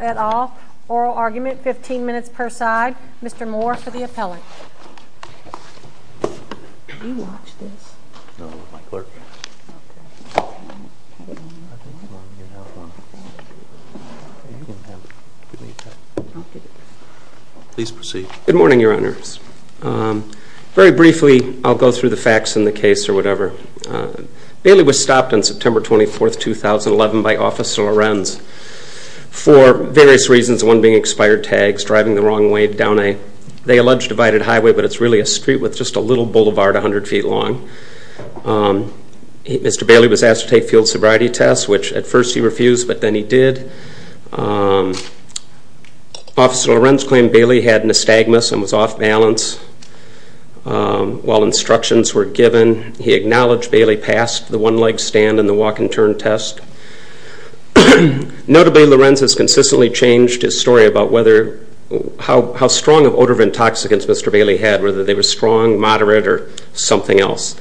et al., Oral Argument, 15 minutes per side. Mr. Moore for the appellate. Good morning, Your Honors. Very briefly, I'll go through the facts in the case or whatever. Bailey was stopped on September 24, 2011 by Officer Lorenz for various reasons. One being expired tags, driving the wrong way down a, they allege, divided highway, but it's really a street with just a little boulevard 100 feet long. Mr. Bailey was asked to take field sobriety tests, which at first he refused, but then he did. Officer Lorenz claimed Bailey had nystagmus and was off balance while instructions were given. He acknowledged Bailey passed the one leg stand and the walk and turn test. Notably, Lorenz has consistently changed his story about whether, how strong of odor of intoxicants Mr. Bailey had, whether they were strong, moderate, or something else.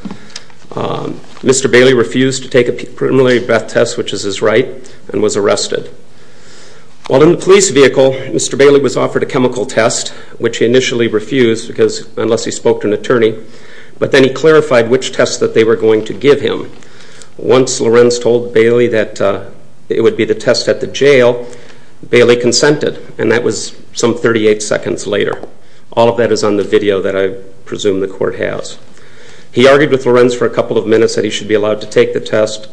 Mr. Bailey refused to take a preliminary breath test, which is his right, and was arrested. While in the police vehicle, Mr. Bailey was offered a chemical test, which he initially refused unless he spoke to an attorney, but then he clarified which test that they were going to give him. Once Lorenz told Bailey that it would be the test at the jail, Bailey consented, and that was some 38 seconds later. All of that is on the video that I presume the court has. He argued with Lorenz for a couple of minutes that he should be allowed to take the test.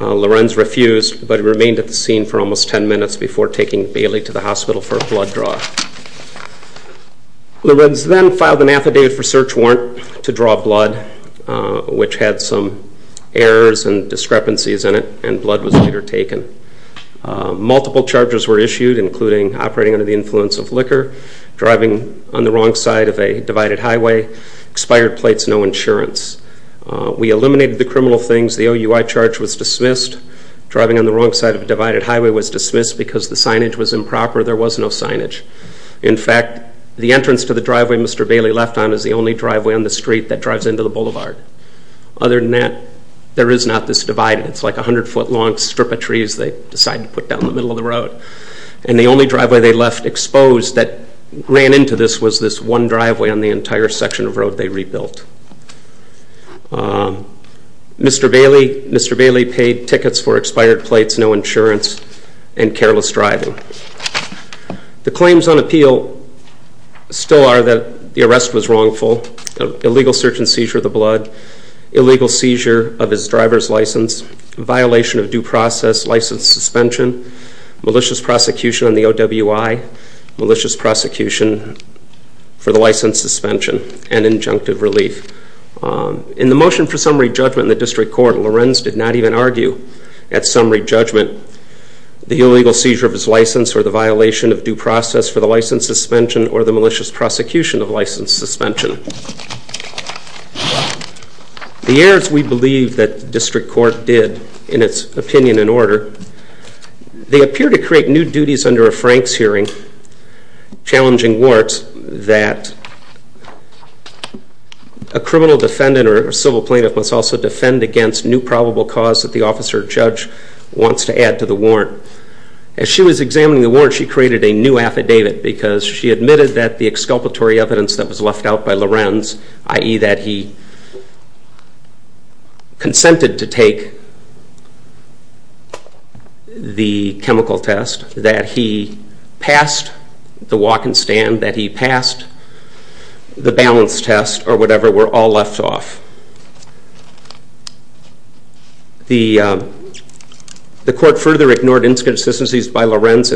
Lorenz refused, but he remained at the scene for almost 10 minutes before taking Bailey to the hospital for a blood draw. Lorenz then filed an affidavit for search warrant to draw blood, which had some errors and discrepancies in it, and blood was later taken. Multiple charges were issued, including operating under the influence of liquor, driving on the wrong side of a divided highway, expired plates, no insurance. We eliminated the criminal things. The OUI charge was dismissed. Driving on the wrong side of a divided highway was dismissed because the signage was improper. There was no signage. In fact, the entrance to the driveway Mr. Bailey left on is the only driveway on the street that drives into the boulevard. Other than that, there is not this divide. It's like a 100-foot-long strip of trees they decided to put down in the middle of the road. And the only driveway they left exposed that ran into this was this one driveway on the entire section of road they rebuilt. Mr. Bailey paid tickets for expired plates, no insurance, and careless driving. The claims on appeal still are that the arrest was wrongful, illegal search and seizure of the blood, illegal seizure of his driver's license, violation of due process, license suspension, malicious prosecution on the OUI, malicious prosecution for the license suspension, and injunctive relief. In the motion for summary judgment in the district court, Lorenz did not even argue at summary judgment the illegal seizure of his license or the violation of due process for the license suspension or the malicious prosecution of license suspension. The errors we believe that the district court did in its opinion and order, they appear to create new duties under a Franks hearing challenging Warts that a criminal defendant or civil plaintiff must also defend against new probable cause that the officer or judge wants to add to the warrant. As she was examining the warrant, she created a new affidavit because she admitted that the exculpatory evidence that was left out by Lorenz, i.e. that he consented to take the chemical test, that he passed the walk and stand, that he passed the balance test or whatever were all left off. The court further ignored inconsistencies by Lorenz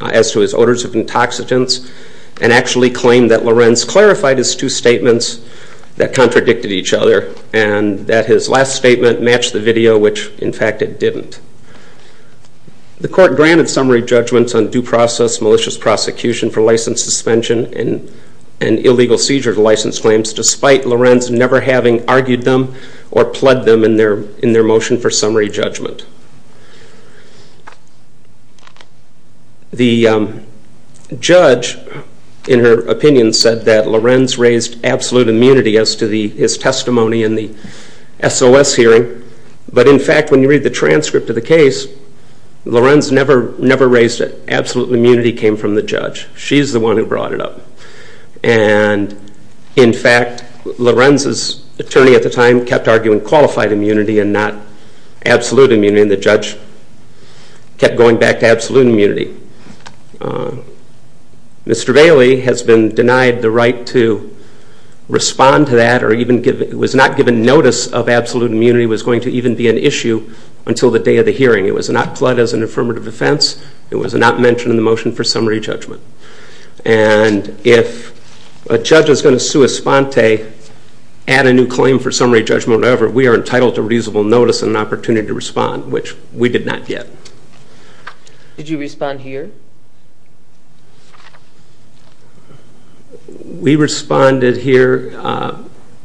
as to his orders of intoxicants and actually claimed that Lorenz clarified his two statements that contradicted each other and that his last statement matched the video which in fact it didn't. The court granted summary judgments on due process, malicious prosecution for license suspension and illegal seizure of license claims despite Lorenz never having argued them or pled them in their motion for summary judgment. The judge in her opinion said that Lorenz raised absolute immunity as to his testimony in the SOS hearing but in fact when you read the transcript of the case, Lorenz never raised it. Absolute immunity came from the judge. She's the one who brought it up and in fact Lorenz's attorney at the time kept arguing qualified immunity and not absolute immunity and the judge kept going back to absolute immunity. Mr. Bailey has been denied the right to respond to that or was not given notice of absolute immunity was going to even be an issue until the day of the hearing. It was not pled as an affirmative defense. It was not mentioned in the motion for summary judgment and if a judge is going to sui sponte, add a new claim for summary judgment or whatever, we are entitled to reasonable notice and an opportunity to respond which we did not get. Did you respond here? We responded here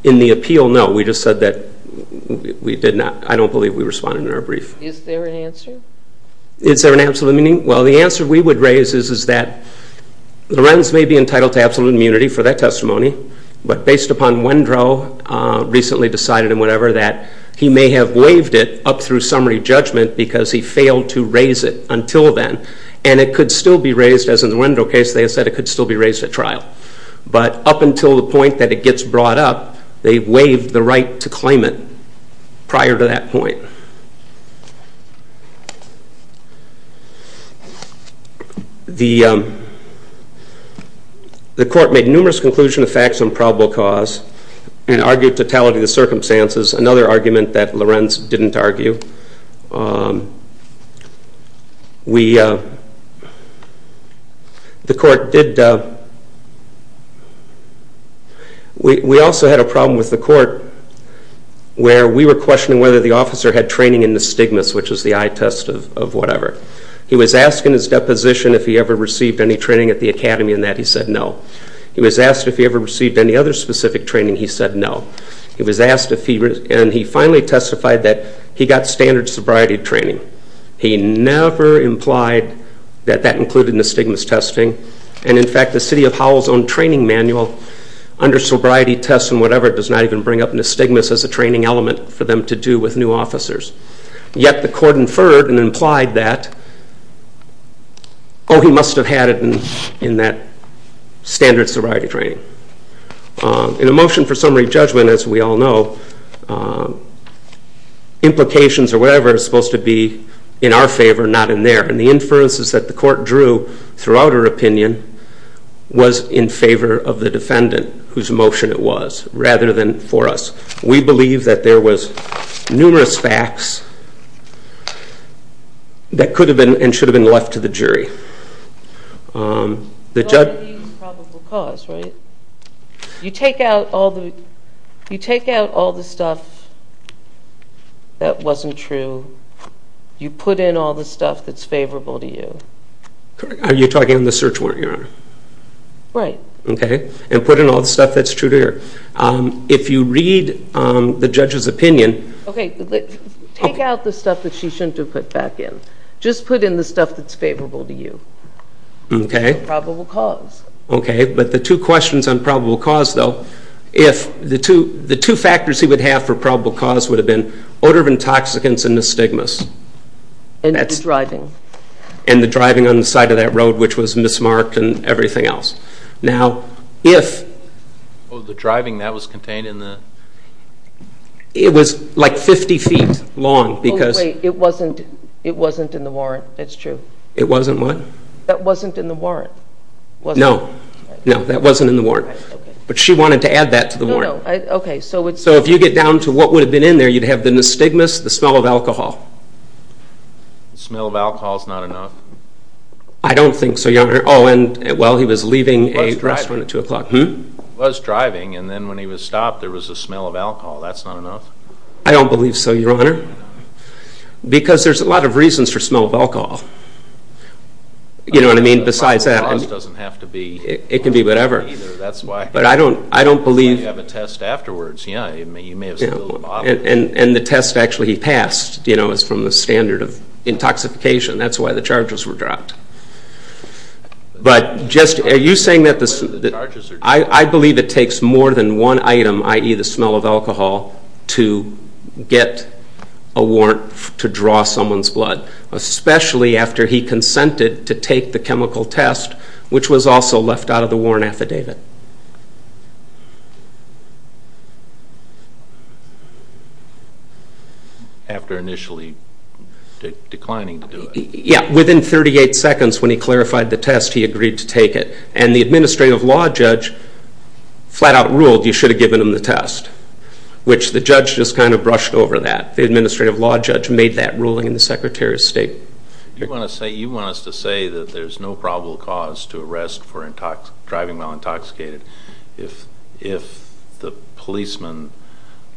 in the appeal. No, we just said that we did not. I don't believe we responded in our brief. Is there an answer? Is there an absolute meaning? Well, the answer we would raise is that Lorenz may be entitled to absolute immunity for that testimony but based upon Wendrow recently decided and whatever that he may have waived it up through summary judgment because he failed to raise it until then and it could still be raised as in the Wendrow case they said it could still be raised at trial. But up until the point that it gets brought up, they waived the right to claim it prior to that point. The court made numerous conclusions of facts on probable cause and argued totality of the circumstances, another argument that Lorenz didn't argue. We also had a problem with the court where we were questioning whether the officer had training in the stigmas which is the eye test of whatever. He was asked in his deposition if he ever received any training at the academy and that he said no. He was asked if he ever received any other specific training, he said no. He was asked if he and he finally testified that he got standard sobriety training. He never implied that that included the stigmas testing and in fact the city of Howell's own training manual under sobriety tests and whatever does not even bring up the stigmas as a training element for them to do with new officers. Yet the court inferred and implied that, oh he must have had it in that standard sobriety training. In a motion for summary judgment as we all know, implications or whatever is supposed to be in our favor, not in theirs. And the inferences that the court drew throughout our opinion was in favor of the defendant whose motion it was rather than for us. We believe that there was numerous facts that could have been and should have been left to the jury. The judge... You take out all the stuff that wasn't true, you put in all the stuff that's favorable to you. Are you talking on the search warrant, Your Honor? Right. Okay. And put in all the stuff that's true to you. If you read the judge's opinion... Okay. Take out the stuff that she shouldn't have put back in. Just put in the stuff that's favorable to you. Okay. For probable cause. Okay. But the two questions on probable cause though, if the two factors he would have for probable cause would have been odor of intoxicants and the stigmas. And the driving. And the driving on the side of that road which was mismarked and everything else. Now, if... Oh, the driving that was contained in the... It was like 50 feet long because... Wait. It wasn't in the warrant. That's true. It wasn't what? That wasn't in the warrant. No. No, that wasn't in the warrant. Okay. But she wanted to add that to the warrant. No, no. Okay. So it's... So if you get down to what would have been in there, you'd have the stigmas, the smell of alcohol. The smell of alcohol is not enough. I don't think so, Your Honor. Oh, and, well, he was leaving a restaurant at 2 o'clock. Was driving. Hm? Was driving. And then when he was stopped, there was the smell of alcohol. That's not enough? I don't believe so, Your Honor. Because there's a lot of reasons for smell of alcohol. You know what I mean? Besides that... It doesn't have to be... It can be whatever. That's why... But I don't believe... You have a test afterwards. Yeah. You may have spilled a bottle. And the test actually he passed, you know, is from the standard of intoxication. That's why the charges were dropped. But just... Are you saying that the... The charges are... I believe it takes more than one item, i.e., the smell of alcohol, to get a warrant to draw someone's blood. Especially after he consented to take the chemical test, which was also left out of the warrant affidavit. After initially declining to do it. Yeah. Within 38 seconds when he clarified the test, he agreed to take it. And the administrative law judge flat out ruled you should have given him the test. Which the judge just kind of brushed over that. The administrative law judge made that ruling in the Secretary of State. You want us to say that there's no probable cause to arrest for driving while intoxicated if the policeman,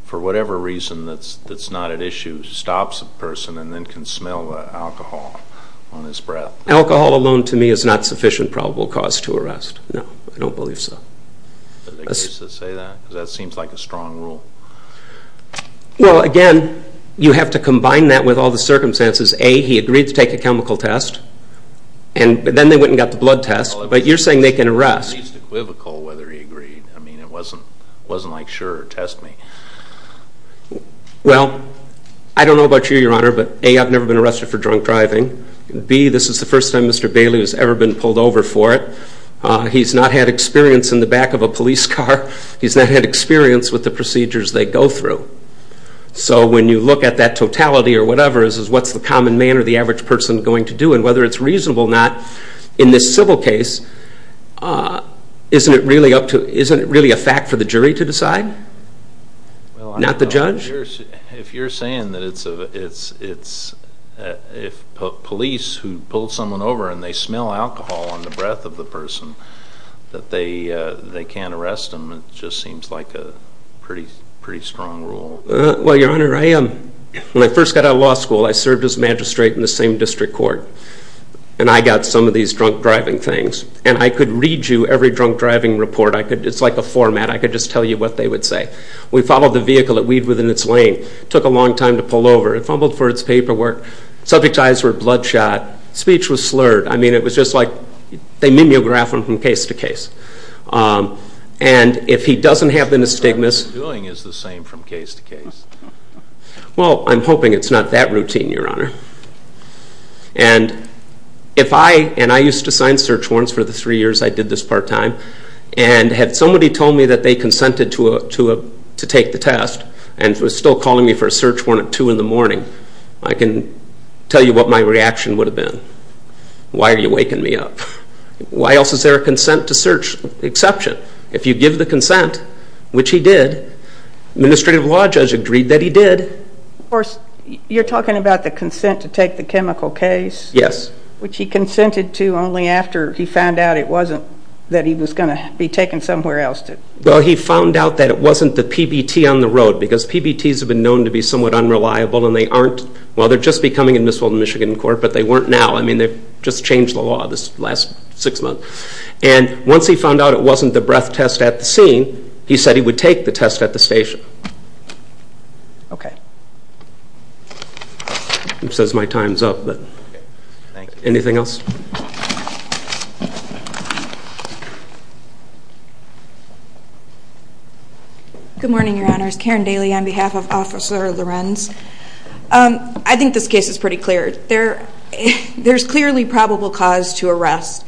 for whatever reason that's not at issue, stops a person and then can smell alcohol on his breath? Alcohol alone, to me, is not sufficient probable cause to arrest. No, I don't believe so. Does it exist to say that? Because that seems like a strong rule. Well, again, you have to combine that with all the circumstances. A, he agreed to take a chemical test. And then they went and got the blood test. But you're saying they can arrest. It's equivocal whether he agreed. I mean, it wasn't like, sure, test me. Well, I don't know about you, Your Honor, but A, I've never been arrested for drunk driving. B, this is the first time Mr. Bailey has ever been pulled over for it. He's not had experience in the back of a police car. He's not had experience with the procedures they go through. So when you look at that totality or whatever, what's the common man or the average person going to do? And whether it's reasonable or not, in this civil case, isn't it really a fact for the jury to decide? Not the judge? If you're saying that it's police who pull someone over and they smell alcohol on the breath of the person, that they can't arrest them, it just seems like a pretty strong rule. Well, Your Honor, when I first got out of law school, I served as magistrate in the same district court. And I got some of these drunk driving things. And I could read you every drunk driving report. It's like a format. I could just tell you what they would say. We followed the vehicle that weaved within its lane. It took a long time to pull over. It fumbled for its paperwork. Subject's eyes were bloodshot. Speech was slurred. I mean, it was just like they mimeographed them from case to case. And if he doesn't have the misdemeanors... What he's doing is the same from case to case. Well, I'm hoping it's not that routine, Your Honor. And if I, and I used to sign search warrants for the three years I did this part-time. And had somebody told me that they consented to take the test and was still calling me for a search warrant at 2 in the morning, I can tell you what my reaction would have been. Why are you waking me up? Why else is there a consent to search exception? If you give the consent, which he did, administrative law judge agreed that he did. Of course, you're talking about the consent to take the chemical case? Yes. Which he consented to only after he found out it wasn't, that he was going to be taken somewhere else. Well, he found out that it wasn't the PBT on the road because PBTs have been known to be somewhat unreliable, and they aren't, well, they're just becoming admissible in Michigan court, but they weren't now. I mean, they've just changed the law this last six months. And once he found out it wasn't the breath test at the scene, he said he would take the test at the station. Okay. It says my time's up, but anything else? Good morning, Your Honors. Karen Daly on behalf of Officer Lorenz. I think this case is pretty clear. There's clearly probable cause to arrest.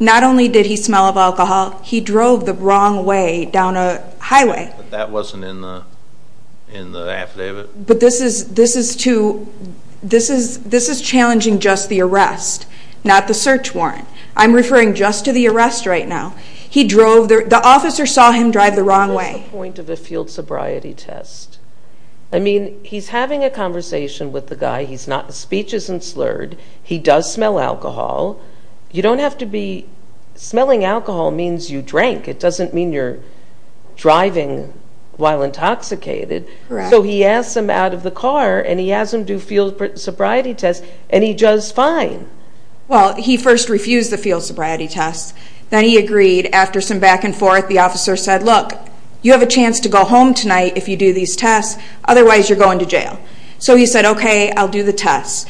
Not only did he smell of alcohol, he drove the wrong way down a highway. But that wasn't in the affidavit? But this is challenging just the arrest, not the search warrant. I'm referring just to the arrest right now. The officer saw him drive the wrong way. What's the point of a field sobriety test? I mean, he's having a conversation with the guy. His speech isn't slurred. He does smell alcohol. Smelling alcohol means you drank. It doesn't mean you're driving while intoxicated. So he asks him out of the car, and he asks him to do field sobriety tests, and he does fine. Well, he first refused the field sobriety tests. Then he agreed. After some back and forth, the officer said, look, you have a chance to go home tonight if you do these tests. Otherwise, you're going to jail. So he said, okay, I'll do the tests.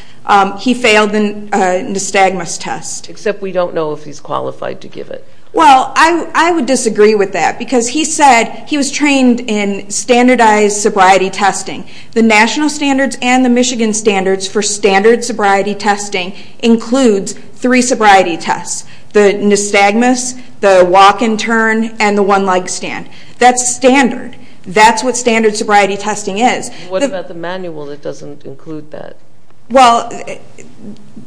He failed the nystagmus test. Except we don't know if he's qualified to give it. Well, I would disagree with that. Because he said he was trained in standardized sobriety testing. The national standards and the Michigan standards for standard sobriety testing includes three sobriety tests, the nystagmus, the walk and turn, and the one-leg stand. That's standard. That's what standard sobriety testing is. What about the manual that doesn't include that? Well,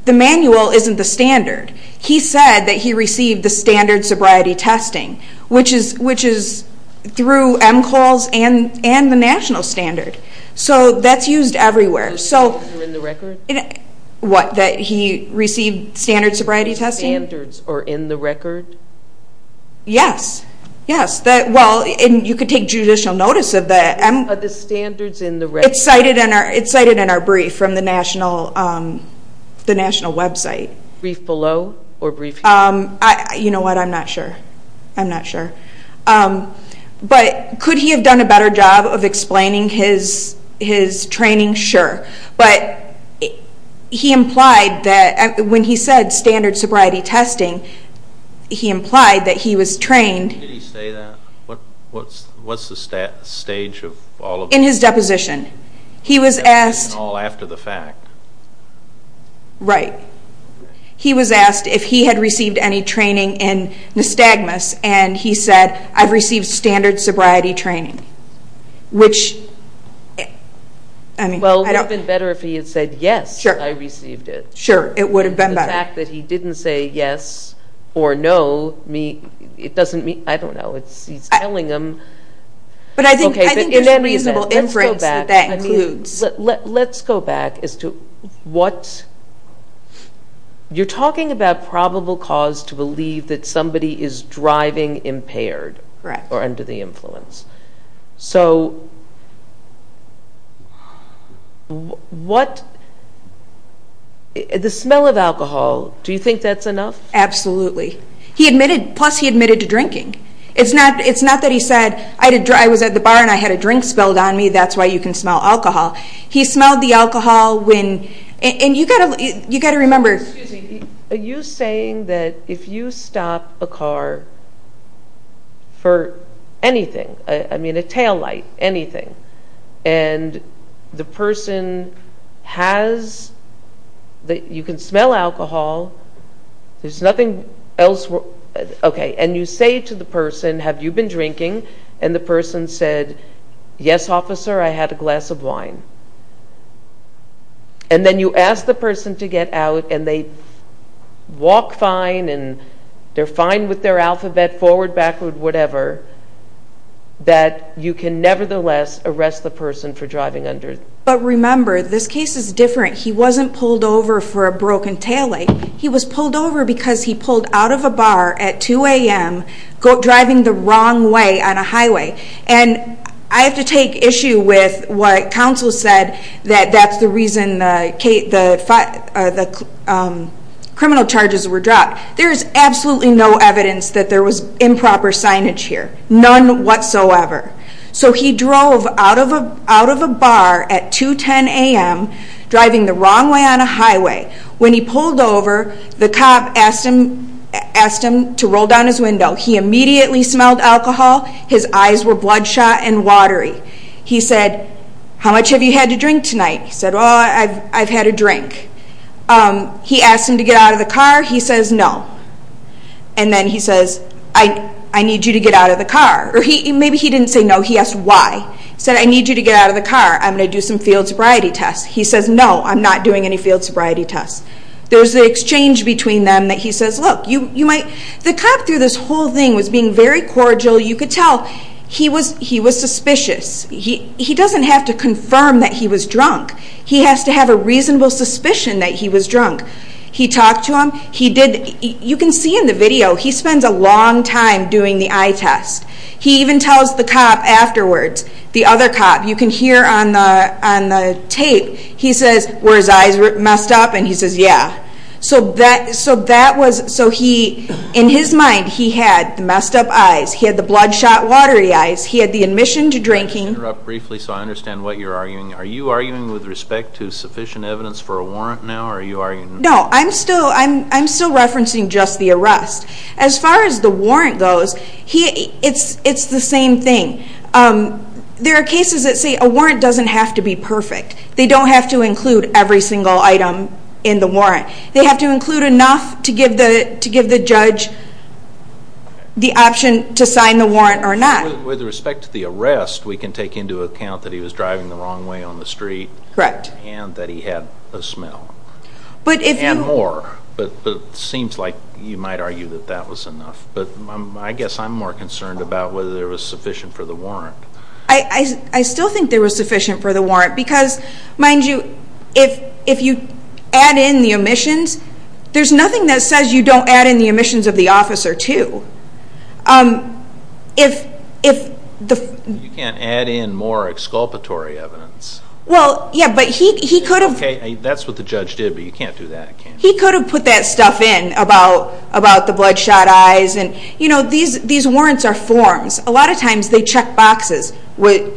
the manual isn't the standard. He said that he received the standard sobriety testing, which is through MCOLs and the national standard. So that's used everywhere. The standards are in the record? What, that he received standard sobriety testing? The standards are in the record? Yes, yes. Well, you could take judicial notice of that. But the standards in the record? It's cited in our brief from the national website. Brief below or brief here? You know what, I'm not sure. I'm not sure. But could he have done a better job of explaining his training? Sure. But he implied that when he said standard sobriety testing, he implied that he was trained. Did he say that? What's the stage of all of this? In his deposition. He was asked. After the fact. Right. He was asked if he had received any training in nystagmus, and he said, I've received standard sobriety training, which, I mean. Well, it would have been better if he had said, yes, I received it. Sure. It would have been better. The fact that he didn't say yes or no, it doesn't mean, I don't know. He's telling them. But I think there's a reasonable inference that that includes. Let's go back as to what. You're talking about probable cause to believe that somebody is driving impaired. Correct. Or under the influence. So what. The smell of alcohol, do you think that's enough? Absolutely. He admitted, plus he admitted to drinking. It's not that he said, I was at the bar and I had a drink spelled on me, that's why you can smell alcohol. He smelled the alcohol when, and you've got to remember. Excuse me. Are you saying that if you stop a car for anything, I mean a taillight, anything, and the person has, you can smell alcohol, there's nothing else, okay, and you say to the person, have you been drinking, and the person said, yes, officer, I had a glass of wine. And then you ask the person to get out and they walk fine and they're fine with their alphabet, forward, backward, whatever, that you can nevertheless arrest the person for driving under. But remember, this case is different. He wasn't pulled over for a broken taillight. He was pulled over because he pulled out of a bar at 2 a.m., driving the wrong way on a highway. And I have to take issue with what counsel said, that that's the reason the criminal charges were dropped. There is absolutely no evidence that there was improper signage here. None whatsoever. So he drove out of a bar at 2 10 a.m., driving the wrong way on a highway. When he pulled over, the cop asked him to roll down his window. He immediately smelled alcohol. His eyes were bloodshot and watery. He said, how much have you had to drink tonight? He said, well, I've had a drink. He asked him to get out of the car. He says no. And then he says, I need you to get out of the car. Or maybe he didn't say no, he asked why. He said, I need you to get out of the car. I'm going to do some field sobriety tests. He says, no, I'm not doing any field sobriety tests. There's the exchange between them that he says, look, you might... The whole thing was being very cordial. You could tell he was suspicious. He doesn't have to confirm that he was drunk. He has to have a reasonable suspicion that he was drunk. He talked to him. You can see in the video, he spends a long time doing the eye test. He even tells the cop afterwards, the other cop, you can hear on the tape, he says, were his eyes messed up? And he says, yeah. So in his mind, he had the messed up eyes. He had the bloodshot, watery eyes. He had the admission to drinking. Let me interrupt briefly so I understand what you're arguing. Are you arguing with respect to sufficient evidence for a warrant now? No, I'm still referencing just the arrest. As far as the warrant goes, it's the same thing. There are cases that say a warrant doesn't have to be perfect. They don't have to include every single item in the warrant. They have to include enough to give the judge the option to sign the warrant or not. With respect to the arrest, we can take into account that he was driving the wrong way on the street. Correct. And that he had a smell. And more. But it seems like you might argue that that was enough. I still think there was sufficient for the warrant. Because, mind you, if you add in the omissions, there's nothing that says you don't add in the omissions of the officer too. You can't add in more exculpatory evidence. Well, yeah, but he could have. Okay, that's what the judge did, but you can't do that. He could have put that stuff in about the bloodshot eyes. These warrants are forms. A lot of times they check boxes. Did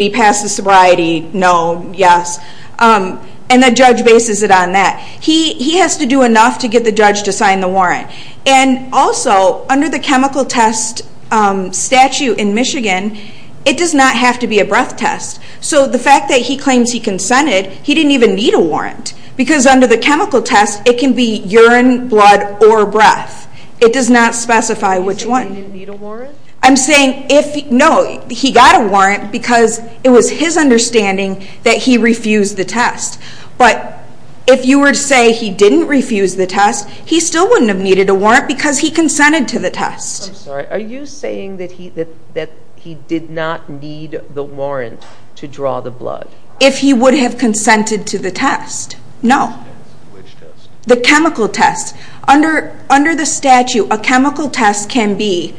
he pass the sobriety? No. Yes. And the judge bases it on that. He has to do enough to get the judge to sign the warrant. And also, under the chemical test statute in Michigan, it does not have to be a breath test. So the fact that he claims he consented, he didn't even need a warrant. Because under the chemical test, it can be urine, blood, or breath. It does not specify which one. Are you saying he didn't need a warrant? I'm saying, no, he got a warrant because it was his understanding that he refused the test. But if you were to say he didn't refuse the test, he still wouldn't have needed a warrant because he consented to the test. I'm sorry. Are you saying that he did not need the warrant to draw the blood? If he would have consented to the test, no. Which test? The chemical test. Under the statute, a chemical test can be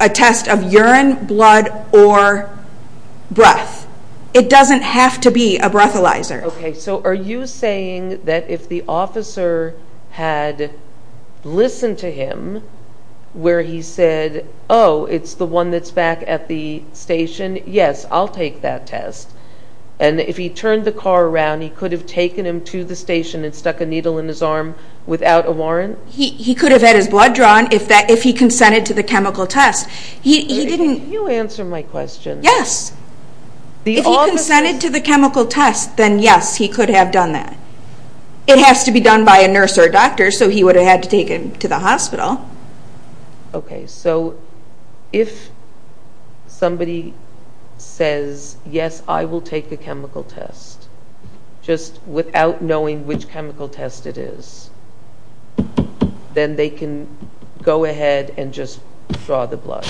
a test of urine, blood, or breath. It doesn't have to be a breathalyzer. Okay. So are you saying that if the officer had listened to him where he said, oh, it's the one that's back at the station, yes, I'll take that test. And if he turned the car around, he could have taken him to the station and stuck a needle in his arm without a warrant? He could have had his blood drawn if he consented to the chemical test. Can you answer my question? Yes. If he consented to the chemical test, then, yes, he could have done that. It has to be done by a nurse or a doctor, so he would have had to take him to the hospital. Okay. So if somebody says, yes, I will take the chemical test, just without knowing which chemical test it is, then they can go ahead and just draw the blood?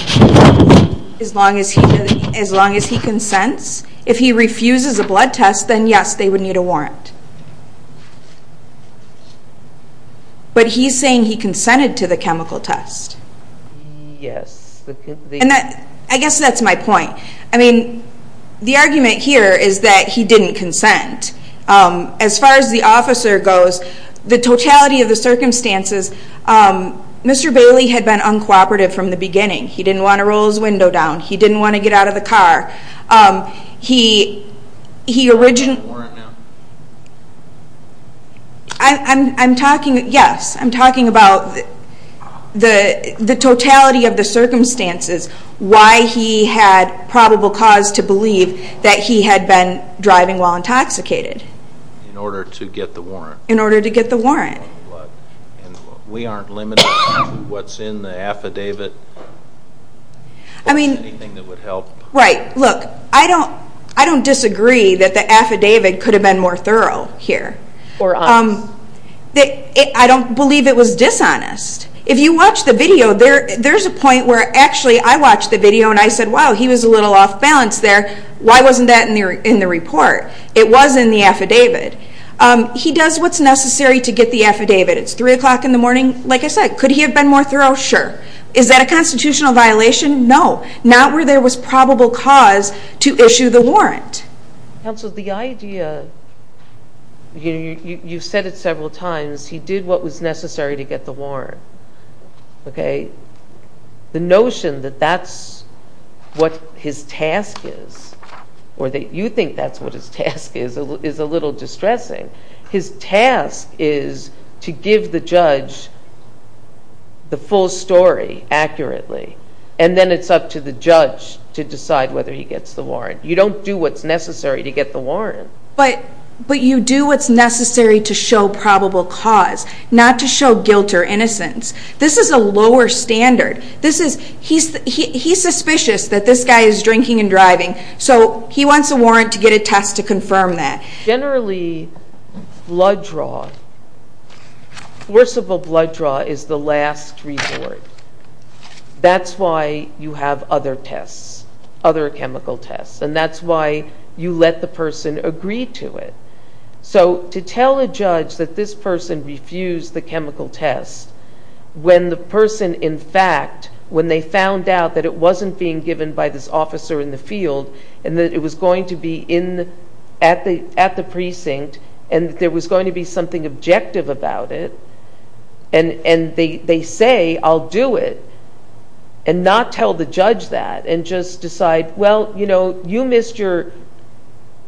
As long as he consents. If he refuses a blood test, then, yes, they would need a warrant. But he's saying he consented to the chemical test. Yes. I guess that's my point. I mean, the argument here is that he didn't consent. As far as the officer goes, the totality of the circumstances, Mr. Bailey had been uncooperative from the beginning. He didn't want to roll his window down. He didn't want to get out of the car. He originally – Do you have a warrant now? I'm talking, yes, I'm talking about the totality of the circumstances, why he had probable cause to believe that he had been driving while intoxicated. In order to get the warrant. In order to get the warrant. And we aren't limited to what's in the affidavit? I mean – Look, I don't disagree that the affidavit could have been more thorough here. Or honest. I don't believe it was dishonest. If you watch the video, there's a point where actually I watched the video and I said, wow, he was a little off balance there. Why wasn't that in the report? It was in the affidavit. He does what's necessary to get the affidavit. It's 3 o'clock in the morning. Like I said, could he have been more thorough? Sure. Is that a constitutional violation? No. Not where there was probable cause to issue the warrant. Counsel, the idea, you've said it several times, he did what was necessary to get the warrant. Okay? The notion that that's what his task is, or that you think that's what his task is, is a little distressing. His task is to give the judge the full story accurately. And then it's up to the judge to decide whether he gets the warrant. You don't do what's necessary to get the warrant. But you do what's necessary to show probable cause, not to show guilt or innocence. This is a lower standard. He's suspicious that this guy is drinking and driving, so he wants a warrant to get a test to confirm that. Generally, blood draw, forcible blood draw is the last resort. That's why you have other tests, other chemical tests. And that's why you let the person agree to it. So to tell a judge that this person refused the chemical test when the person, in fact, when they found out that it wasn't being given by this officer in the field and that it was going to be at the precinct and that there was going to be something objective about it, and they say, I'll do it, and not tell the judge that and just decide, well, you know, you missed your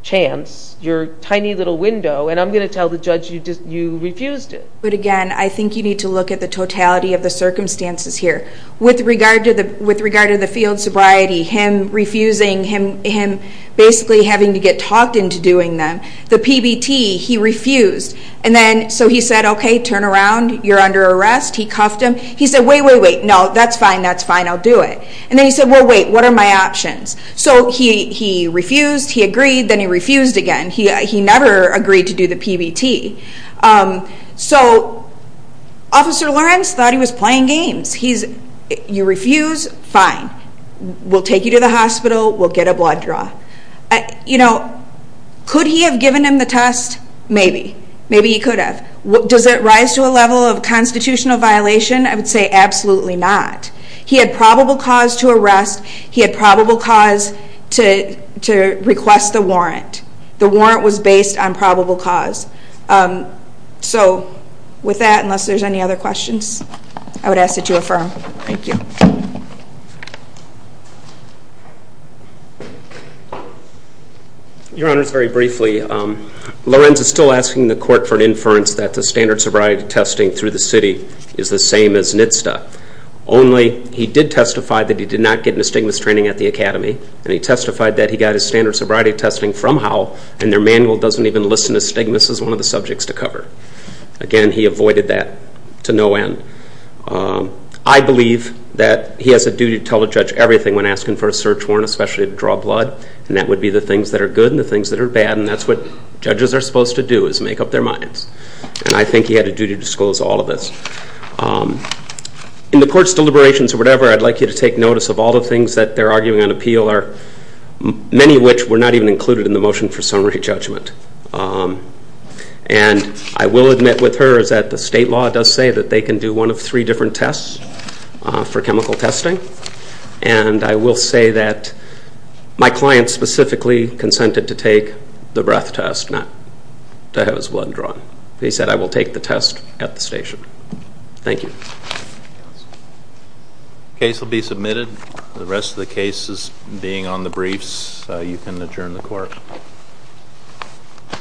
chance, your tiny little window, and I'm going to tell the judge you refused it. But again, I think you need to look at the totality of the circumstances here. With regard to the field sobriety, him refusing, him basically having to get talked into doing them, the PBT, he refused. And then so he said, okay, turn around, you're under arrest. He cuffed him. He said, wait, wait, wait, no, that's fine, that's fine, I'll do it. And then he said, well, wait, what are my options? So he refused, he agreed, then he refused again. He never agreed to do the PBT. So Officer Lawrence thought he was playing games. You refuse, fine, we'll take you to the hospital, we'll get a blood draw. You know, could he have given him the test? Maybe. Maybe he could have. Does it rise to a level of constitutional violation? I would say absolutely not. He had probable cause to arrest. He had probable cause to request the warrant. The warrant was based on probable cause. So with that, unless there's any other questions, I would ask that you affirm. Thank you. Your Honors, very briefly, Lawrence is still asking the court for an inference that the standard sobriety testing through the city is the same as NHTSA, only he did testify that he did not get an astigmas training at the academy, and he testified that he got his standard sobriety testing from Howell and their manual doesn't even list an astigmas as one of the subjects to cover. Again, he avoided that to no end. I believe that he has a duty to tell the judge everything when asking for a search warrant, especially to draw blood, and that would be the things that are good and the things that are bad, and that's what judges are supposed to do is make up their minds. And I think he had a duty to disclose all of this. In the court's deliberations or whatever, I'd like you to take notice of all the things that they're arguing on appeal, many of which were not even included in the motion for summary judgment. And I will admit with her that the state law does say that they can do one of three different tests for chemical testing, and I will say that my client specifically consented to take the breath test, not to have his blood drawn. He said, I will take the test at the station. Thank you. The case will be submitted. The rest of the cases being on the briefs, you can adjourn the court. Thank you.